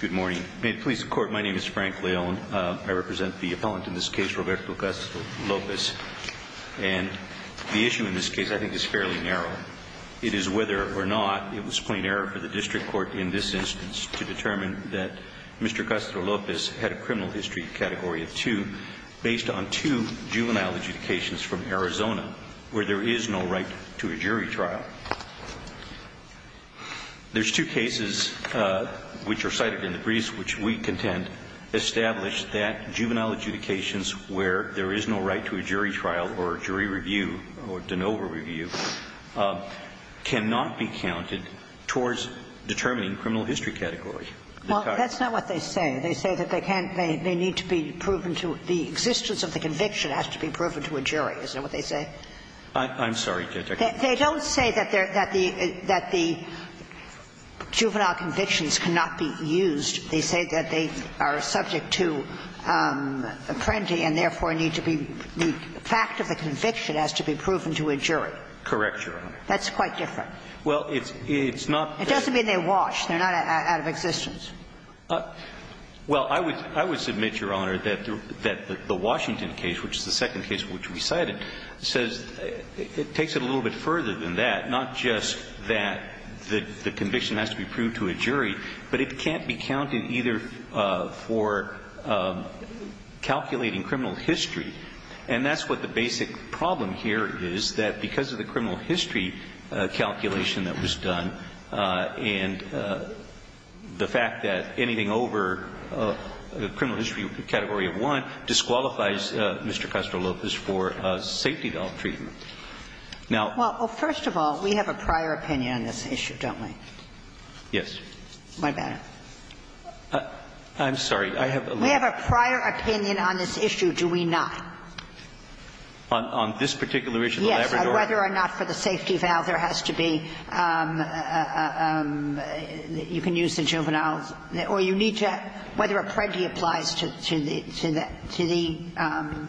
Good morning. May it please the Court, my name is Frank Leone. I represent the appellant in this case, Roberto Castro-Lopez, and the issue in this case I think is fairly narrow. It is whether or not it was plain error for the district court in this instance to determine that Mr. Castro-Lopez had a criminal history category of two based on two juvenile adjudications from Arizona where there is no right to a jury trial. There's two cases which are cited in the briefs which we contend establish that juvenile adjudications where there is no right to a jury trial or jury review or de novo review cannot be counted towards determining criminal history category. Well, that's not what they say. They say that they can't – they need to be proven to – the existence of the conviction has to be proven to a jury. Is that what they say? I'm sorry, Judge. They don't say that the juvenile convictions cannot be used. They say that they are subject to apprentice and therefore need to be – the fact of the conviction has to be proven to a jury. Correct, Your Honor. That's quite different. Well, it's not – It doesn't mean they're washed. They're not out of existence. Well, I would – I would submit, Your Honor, that the Washington case, which is the one that was – it takes it a little bit further than that, not just that the conviction has to be proved to a jury, but it can't be counted either for calculating criminal history. And that's what the basic problem here is, that because of the criminal history calculation that was done and the fact that anything over the criminal history category of one disqualifies Mr. Castro-Lopez for safety, though, for his freedom. Now – Well, first of all, we have a prior opinion on this issue, don't we? Yes. What about it? I'm sorry. I have a little – We have a prior opinion on this issue, do we not? On this particular issue, the Labrador – Yes. Whether or not for the safety valve there has to be – you can use the juvenile – or you need to – whether a predi applies to the – to the safety valve.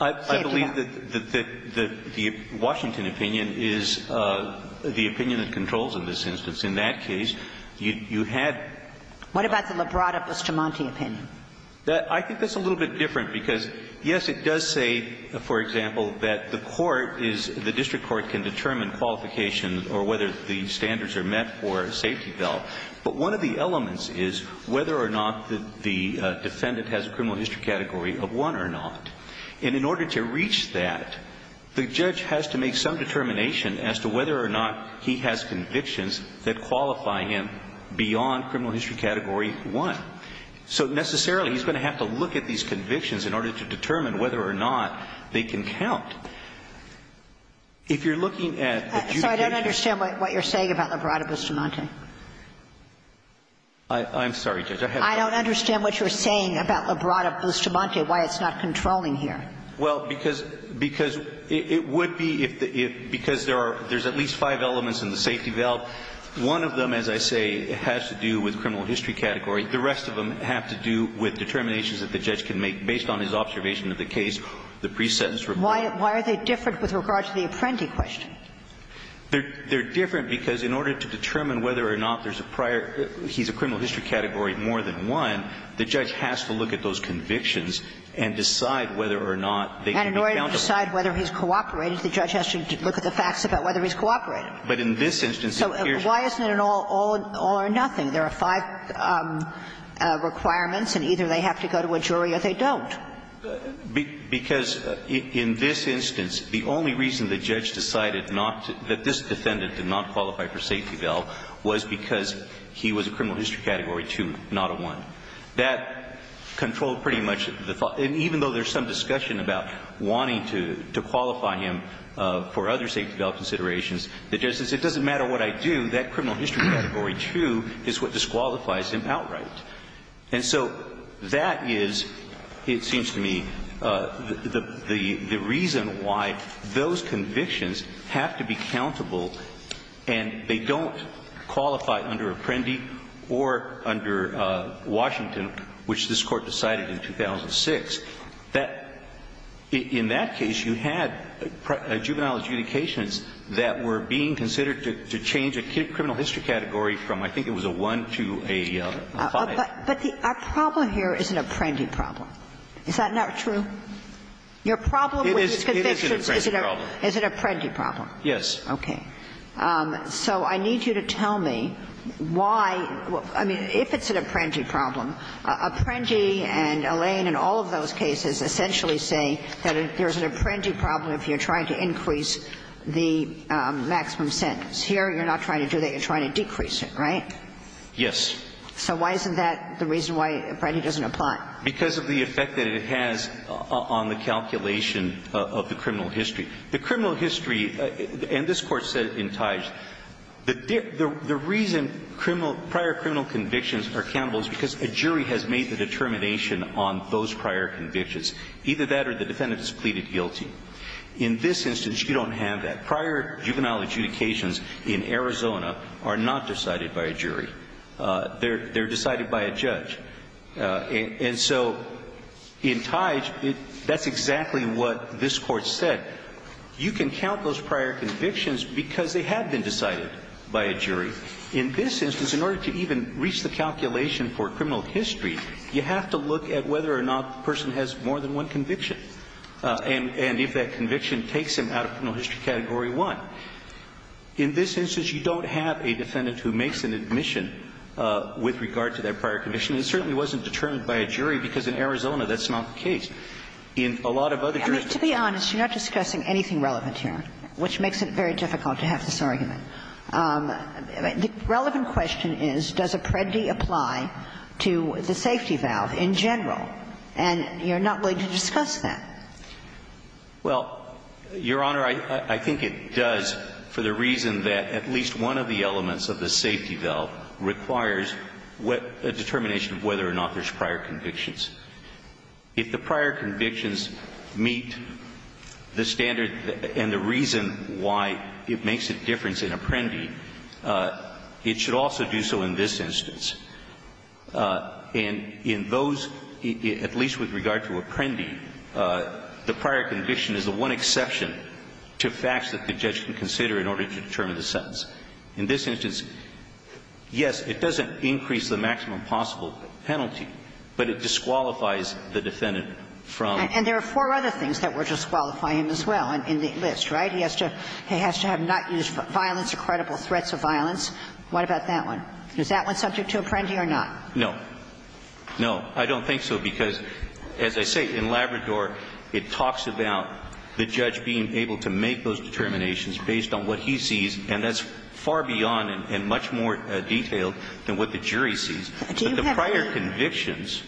I believe that the – that the Washington opinion is the opinion that controls in this instance. In that case, you – you had – What about the Labrador-Bustamante opinion? I think that's a little bit different, because, yes, it does say, for example, that the court is – the district court can determine qualification or whether the standards are met for a safety valve. But one of the elements is whether or not the defendant has a criminal history category of 1 or not. And in order to reach that, the judge has to make some determination as to whether or not he has convictions that qualify him beyond criminal history category 1. So necessarily, he's going to have to look at these convictions in order to determine whether or not they can count. If you're looking at adjudication – I don't understand what you're saying about Labrador-Bustamante. I'm sorry, Judge. I have no idea. I don't understand what you're saying about Labrador-Bustamante, why it's not controlling here. Well, because – because it would be if the – if – because there are – there's at least five elements in the safety valve. One of them, as I say, has to do with criminal history category. The rest of them have to do with determinations that the judge can make based on his observation of the case, the pre-sentence report. Why are they different with regard to the apprenti question? They're different because in order to determine whether or not there's a prior – he's a criminal history category more than 1, the judge has to look at those convictions and decide whether or not they can be countable. And in order to decide whether he's cooperated, the judge has to look at the facts about whether he's cooperated. But in this instance, it appears – So why isn't it an all – all or nothing? There are five requirements, and either they have to go to a jury or they don't. Because in this instance, the only reason the judge decided not to – that this he was a criminal history category 2, not a 1. That controlled pretty much the – and even though there's some discussion about wanting to – to qualify him for other safety valve considerations, the judge says it doesn't matter what I do, that criminal history category 2 is what disqualifies him outright. And so that is, it seems to me, the – the reason why those convictions have to be countable and they don't qualify under apprenticeship or under Washington, which this Court decided in 2006, that in that case, you had juvenile adjudications that were being considered to – to change a criminal history category from, I think it was a 1 to a 5. But the – our problem here is an apprenti problem. Is that not true? Your problem with these convictions is an apprenti problem. It is an apprenti problem. Is it an apprenti problem? Yes. Okay. So I need you to tell me why – I mean, if it's an apprenti problem, apprenti and Elaine in all of those cases essentially say that there's an apprenti problem if you're trying to increase the maximum sentence. Here, you're not trying to do that. You're trying to decrease it, right? So why isn't that the reason why apprenti doesn't apply? Because of the effect that it has on the calculation of the criminal history. The criminal history – and this Court said in Teige, the reason criminal – prior criminal convictions are countable is because a jury has made the determination on those prior convictions. Either that or the defendant has pleaded guilty. In this instance, you don't have that. Prior juvenile adjudications in Arizona are not decided by a jury. They're decided by a judge. And so in Teige, that's exactly what this Court said. You can count those prior convictions because they have been decided by a jury. In this instance, in order to even reach the calculation for criminal history, you have to look at whether or not the person has more than one conviction and if that conviction takes him out of criminal history category 1. In this instance, you don't have a defendant who makes an admission with regard to that prior conviction. It certainly wasn't determined by a jury, because in Arizona that's not the case. In a lot of other jurisdictions – To be honest, you're not discussing anything relevant here, which makes it very difficult to have this argument. The relevant question is, does apprenti apply to the safety valve in general? And you're not willing to discuss that. Well, Your Honor, I think it does for the reason that at least one of the elements of the safety valve requires a determination of whether or not there's prior convictions. If the prior convictions meet the standard and the reason why it makes a difference in apprendi, it should also do so in this instance. And in those, at least with regard to apprendi, the prior conviction is the one exception to facts that the judge can consider in order to determine the sentence. In this instance, yes, it doesn't increase the maximum possible penalty, but it disqualifies the defendant from – And there are four other things that would disqualify him as well in the list, right? He has to have not used violence or credible threats of violence. What about that one? Is that one subject to apprendi or not? No. No, I don't think so, because as I say, in Labrador, it talks about the judge being able to make those determinations based on what he sees, and that's far beyond and much more detailed than what the jury sees. But the prior convictions,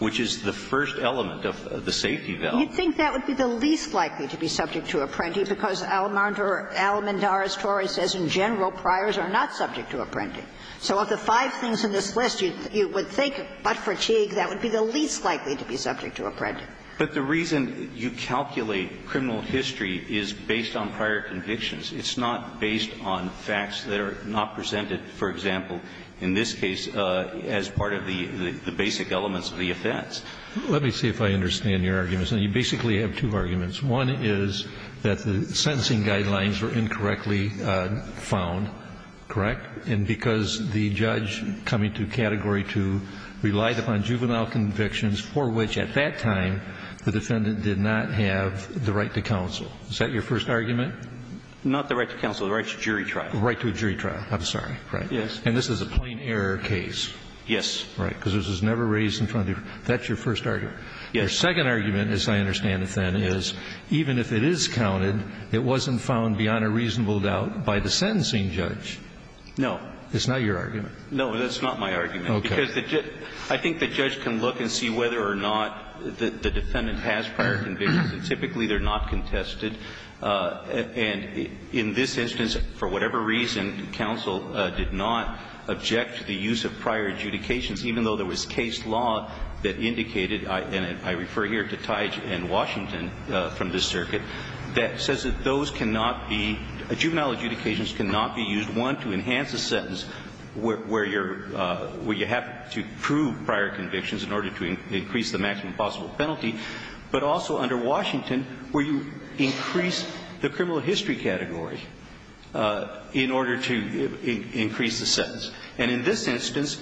which is the first element of the safety valve – You'd think that would be the least likely to be subject to apprendi, because Alamandara's tory says, in general, priors are not subject to apprendi. So of the five things in this list, you would think, but for Teague, that would be the least likely to be subject to apprendi. But the reason you calculate criminal history is based on prior convictions. It's not based on facts that are not presented, for example, in this case, as part of the basic elements of the offense. Let me see if I understand your arguments. And you basically have two arguments. One is that the sentencing guidelines were incorrectly found, correct? And because the judge coming to Category 2 relied upon juvenile convictions, for which, at that time, the defendant did not have the right to counsel. Is that your first argument? Not the right to counsel. The right to jury trial. The right to a jury trial. I'm sorry. Yes. And this is a plain error case. Yes. Right. Because this was never raised in front of the – that's your first argument. Yes. Your second argument, as I understand it, then, is even if it is counted, it wasn't found beyond a reasonable doubt by the sentencing judge. No. It's not your argument. No, that's not my argument. Okay. Because I think the judge can look and see whether or not the defendant has prior convictions, and typically they're not contested. And in this instance, for whatever reason, counsel did not object to the use of prior adjudications, even though there was case law that indicated – and I refer here to Teich and Washington from this circuit – that says that those cannot be – juvenile to prove prior convictions in order to increase the maximum possible penalty, but also under Washington, where you increase the criminal history category in order to increase the sentence. And in this instance,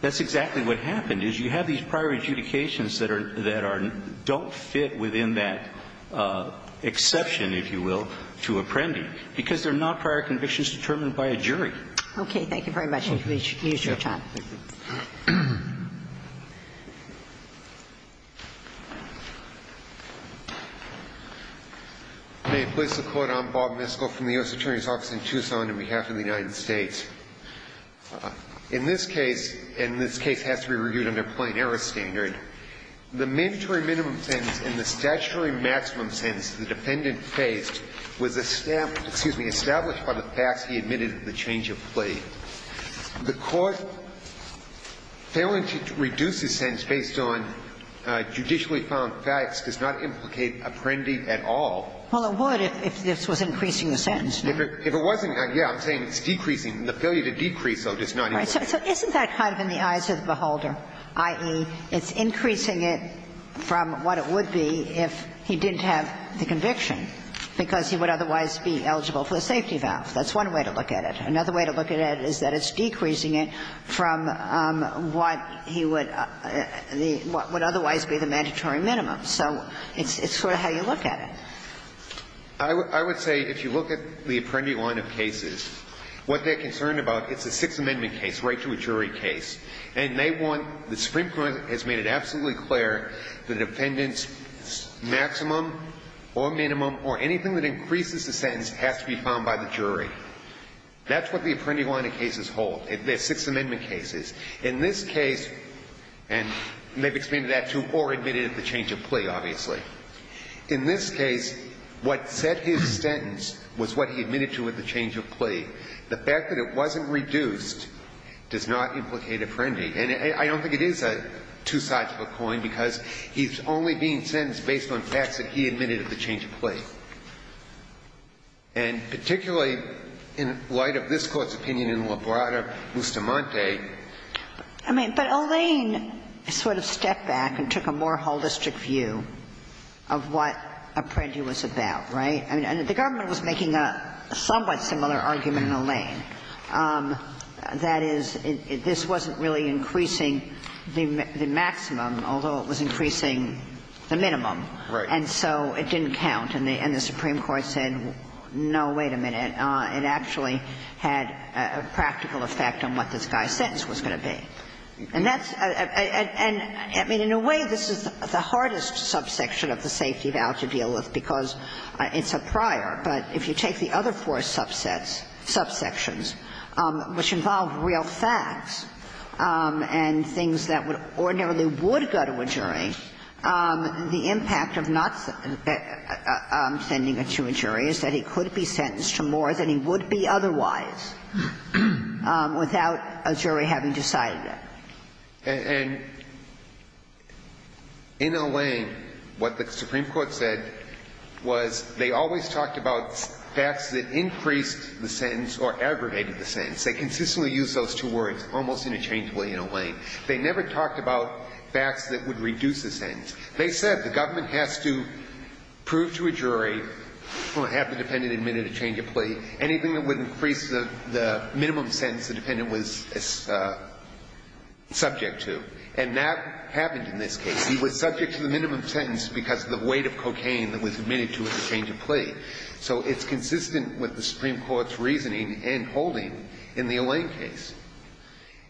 that's exactly what happened, is you have these prior adjudications that are – that are – don't fit within that exception, if you will, to apprendi, because they're not prior convictions determined by a jury. Okay. Thank you very much. Okay. Thank you, Mr. Chapman. May it please the Court. I'm Bob Miskell from the U.S. Attorney's Office in Tucson, on behalf of the United States. In this case – and this case has to be reviewed under plain-error standard – the mandatory minimum sentence and the statutory maximum sentence the defendant faced was established – excuse me – established by the facts he admitted to the change of plea. The Court failing to reduce the sentence based on judicially found facts does not implicate apprendi at all. Well, it would if this was increasing the sentence. If it wasn't, yeah, I'm saying it's decreasing. The failure to decrease, though, does not imply that. So isn't that kind of in the eyes of the beholder, i.e., it's increasing it from what it would be if he didn't have the conviction, because he would otherwise be eligible for the safety valve. That's one way to look at it. Another way to look at it is that it's decreasing it from what he would – what would otherwise be the mandatory minimum. So it's sort of how you look at it. I would say if you look at the apprendi line of cases, what they're concerned about, it's a Sixth Amendment case right to a jury case. And they want – the Supreme Court has made it absolutely clear the defendant's maximum or minimum or anything that increases the sentence has to be found by the jury. That's what the apprendi line of cases hold. They're Sixth Amendment cases. In this case – and they've explained that to or admitted at the change of plea, obviously. In this case, what set his sentence was what he admitted to at the change of plea. The fact that it wasn't reduced does not implicate apprendi. And I don't think it is a two-sided coin, because he's only being sentenced based on facts that he admitted at the change of plea. And particularly in light of this Court's opinion in Labrada-Mustamante – I mean, but Alain sort of stepped back and took a more whole district view of what apprendi was about, right? I mean, the government was making a somewhat similar argument in Alain, that is, this wasn't really increasing the maximum, although it was increasing the minimum. Right. And so it didn't count, and the Supreme Court said, no, wait a minute, it actually had a practical effect on what this guy's sentence was going to be. And that's – and, I mean, in a way, this is the hardest subsection of the safety of Al to deal with, because it's a prior. But if you take the other four subsets – subsections, which involve real facts and things that ordinarily would go to a jury, the impact of not sending it to a jury is that he could be sentenced to more than he would be otherwise, without a jury having decided that. And in Alain, what the Supreme Court said was they always talked about facts that increased the sentence or aggravated the sentence. They consistently used those two words, almost interchangeably, in Alain. They never talked about facts that would reduce the sentence. They said the government has to prove to a jury, well, have the defendant admitted a change of plea, anything that would increase the minimum sentence the defendant was subject to. And that happened in this case. He was subject to the minimum sentence because of the weight of cocaine that was admitted to at the change of plea. So it's consistent with the Supreme Court's reasoning and holding in the Alain case.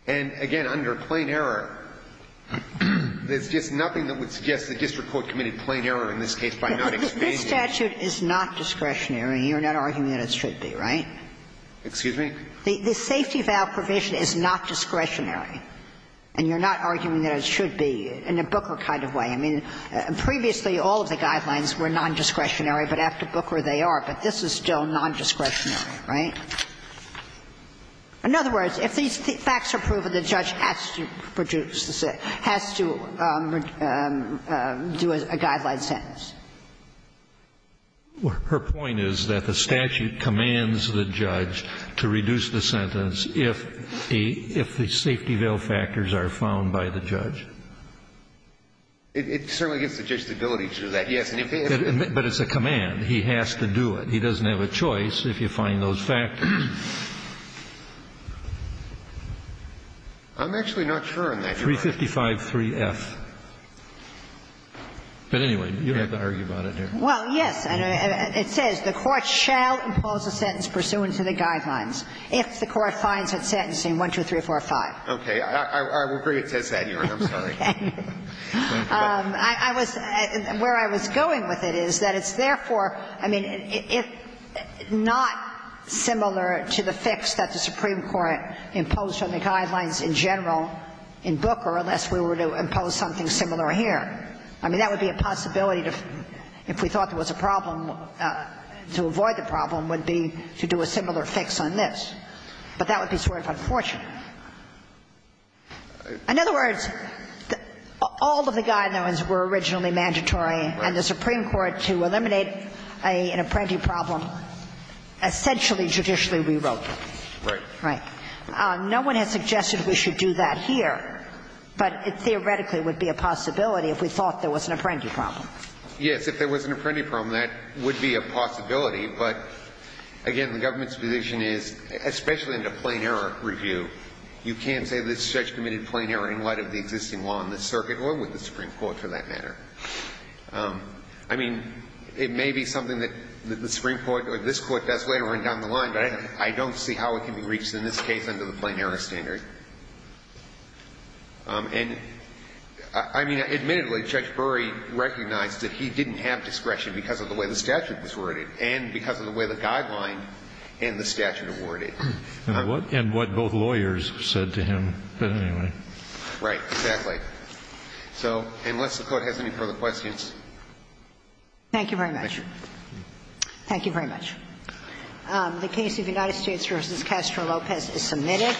And again, under plain error, there's just nothing that would suggest the district court committed plain error in this case by not explaining it. This statute is not discretionary. You're not arguing that it should be, right? Excuse me? The safety of Al provision is not discretionary. And you're not arguing that it should be in a Booker kind of way. I mean, previously, all of the guidelines were non-discretionary, but after Booker, they are. But this is still non-discretionary, right? In other words, if these facts are proven, the judge has to reduce the sentence or has to do a guideline sentence. Kennedy. Well, her point is that the statute commands the judge to reduce the sentence if the safety veil factors are found by the judge. It certainly gives the judge the ability to do that, yes. And if he has to do it. But it's a command. He has to do it. He doesn't have a choice if you find those factors. I'm actually not sure on that. 355-3F. But anyway, you don't have to argue about it there. Well, yes. It says the court shall impose a sentence pursuant to the guidelines if the court finds it sentencing 12345. Okay. I will bring it to that hearing. I'm sorry. Okay. I was – where I was going with it is that it's therefore – I mean, if not similar to the fix that the Supreme Court imposed on the guidelines in general in Booker, unless we were to impose something similar here. I mean, that would be a possibility to – if we thought there was a problem, to avoid the problem would be to do a similar fix on this. But that would be sort of unfortunate. In other words, all of the guidelines were originally mandatory, and the Supreme Court, to eliminate an apprentice problem, essentially, judicially rewrote them. Right. Right. No one has suggested we should do that here, but it theoretically would be a possibility if we thought there was an apprentice problem. Yes. If there was an apprentice problem, that would be a possibility. But, again, the government's position is, especially in a plain error review, you can't say this judge committed a plain error in light of the existing law in this circuit or with the Supreme Court, for that matter. I mean, it may be something that the Supreme Court or this Court does later on down the line, but I don't see how it can be reached in this case under the plain error standard. And, I mean, admittedly, Judge Burry recognized that he didn't have discretion because of the way the statute was worded and because of the way the guideline and the statute were worded. And what both lawyers said to him. But, anyway. Right. Exactly. So unless the Court has any further questions. Thank you very much. Thank you. Thank you very much. The case of United States v. Castro Lopez is submitted.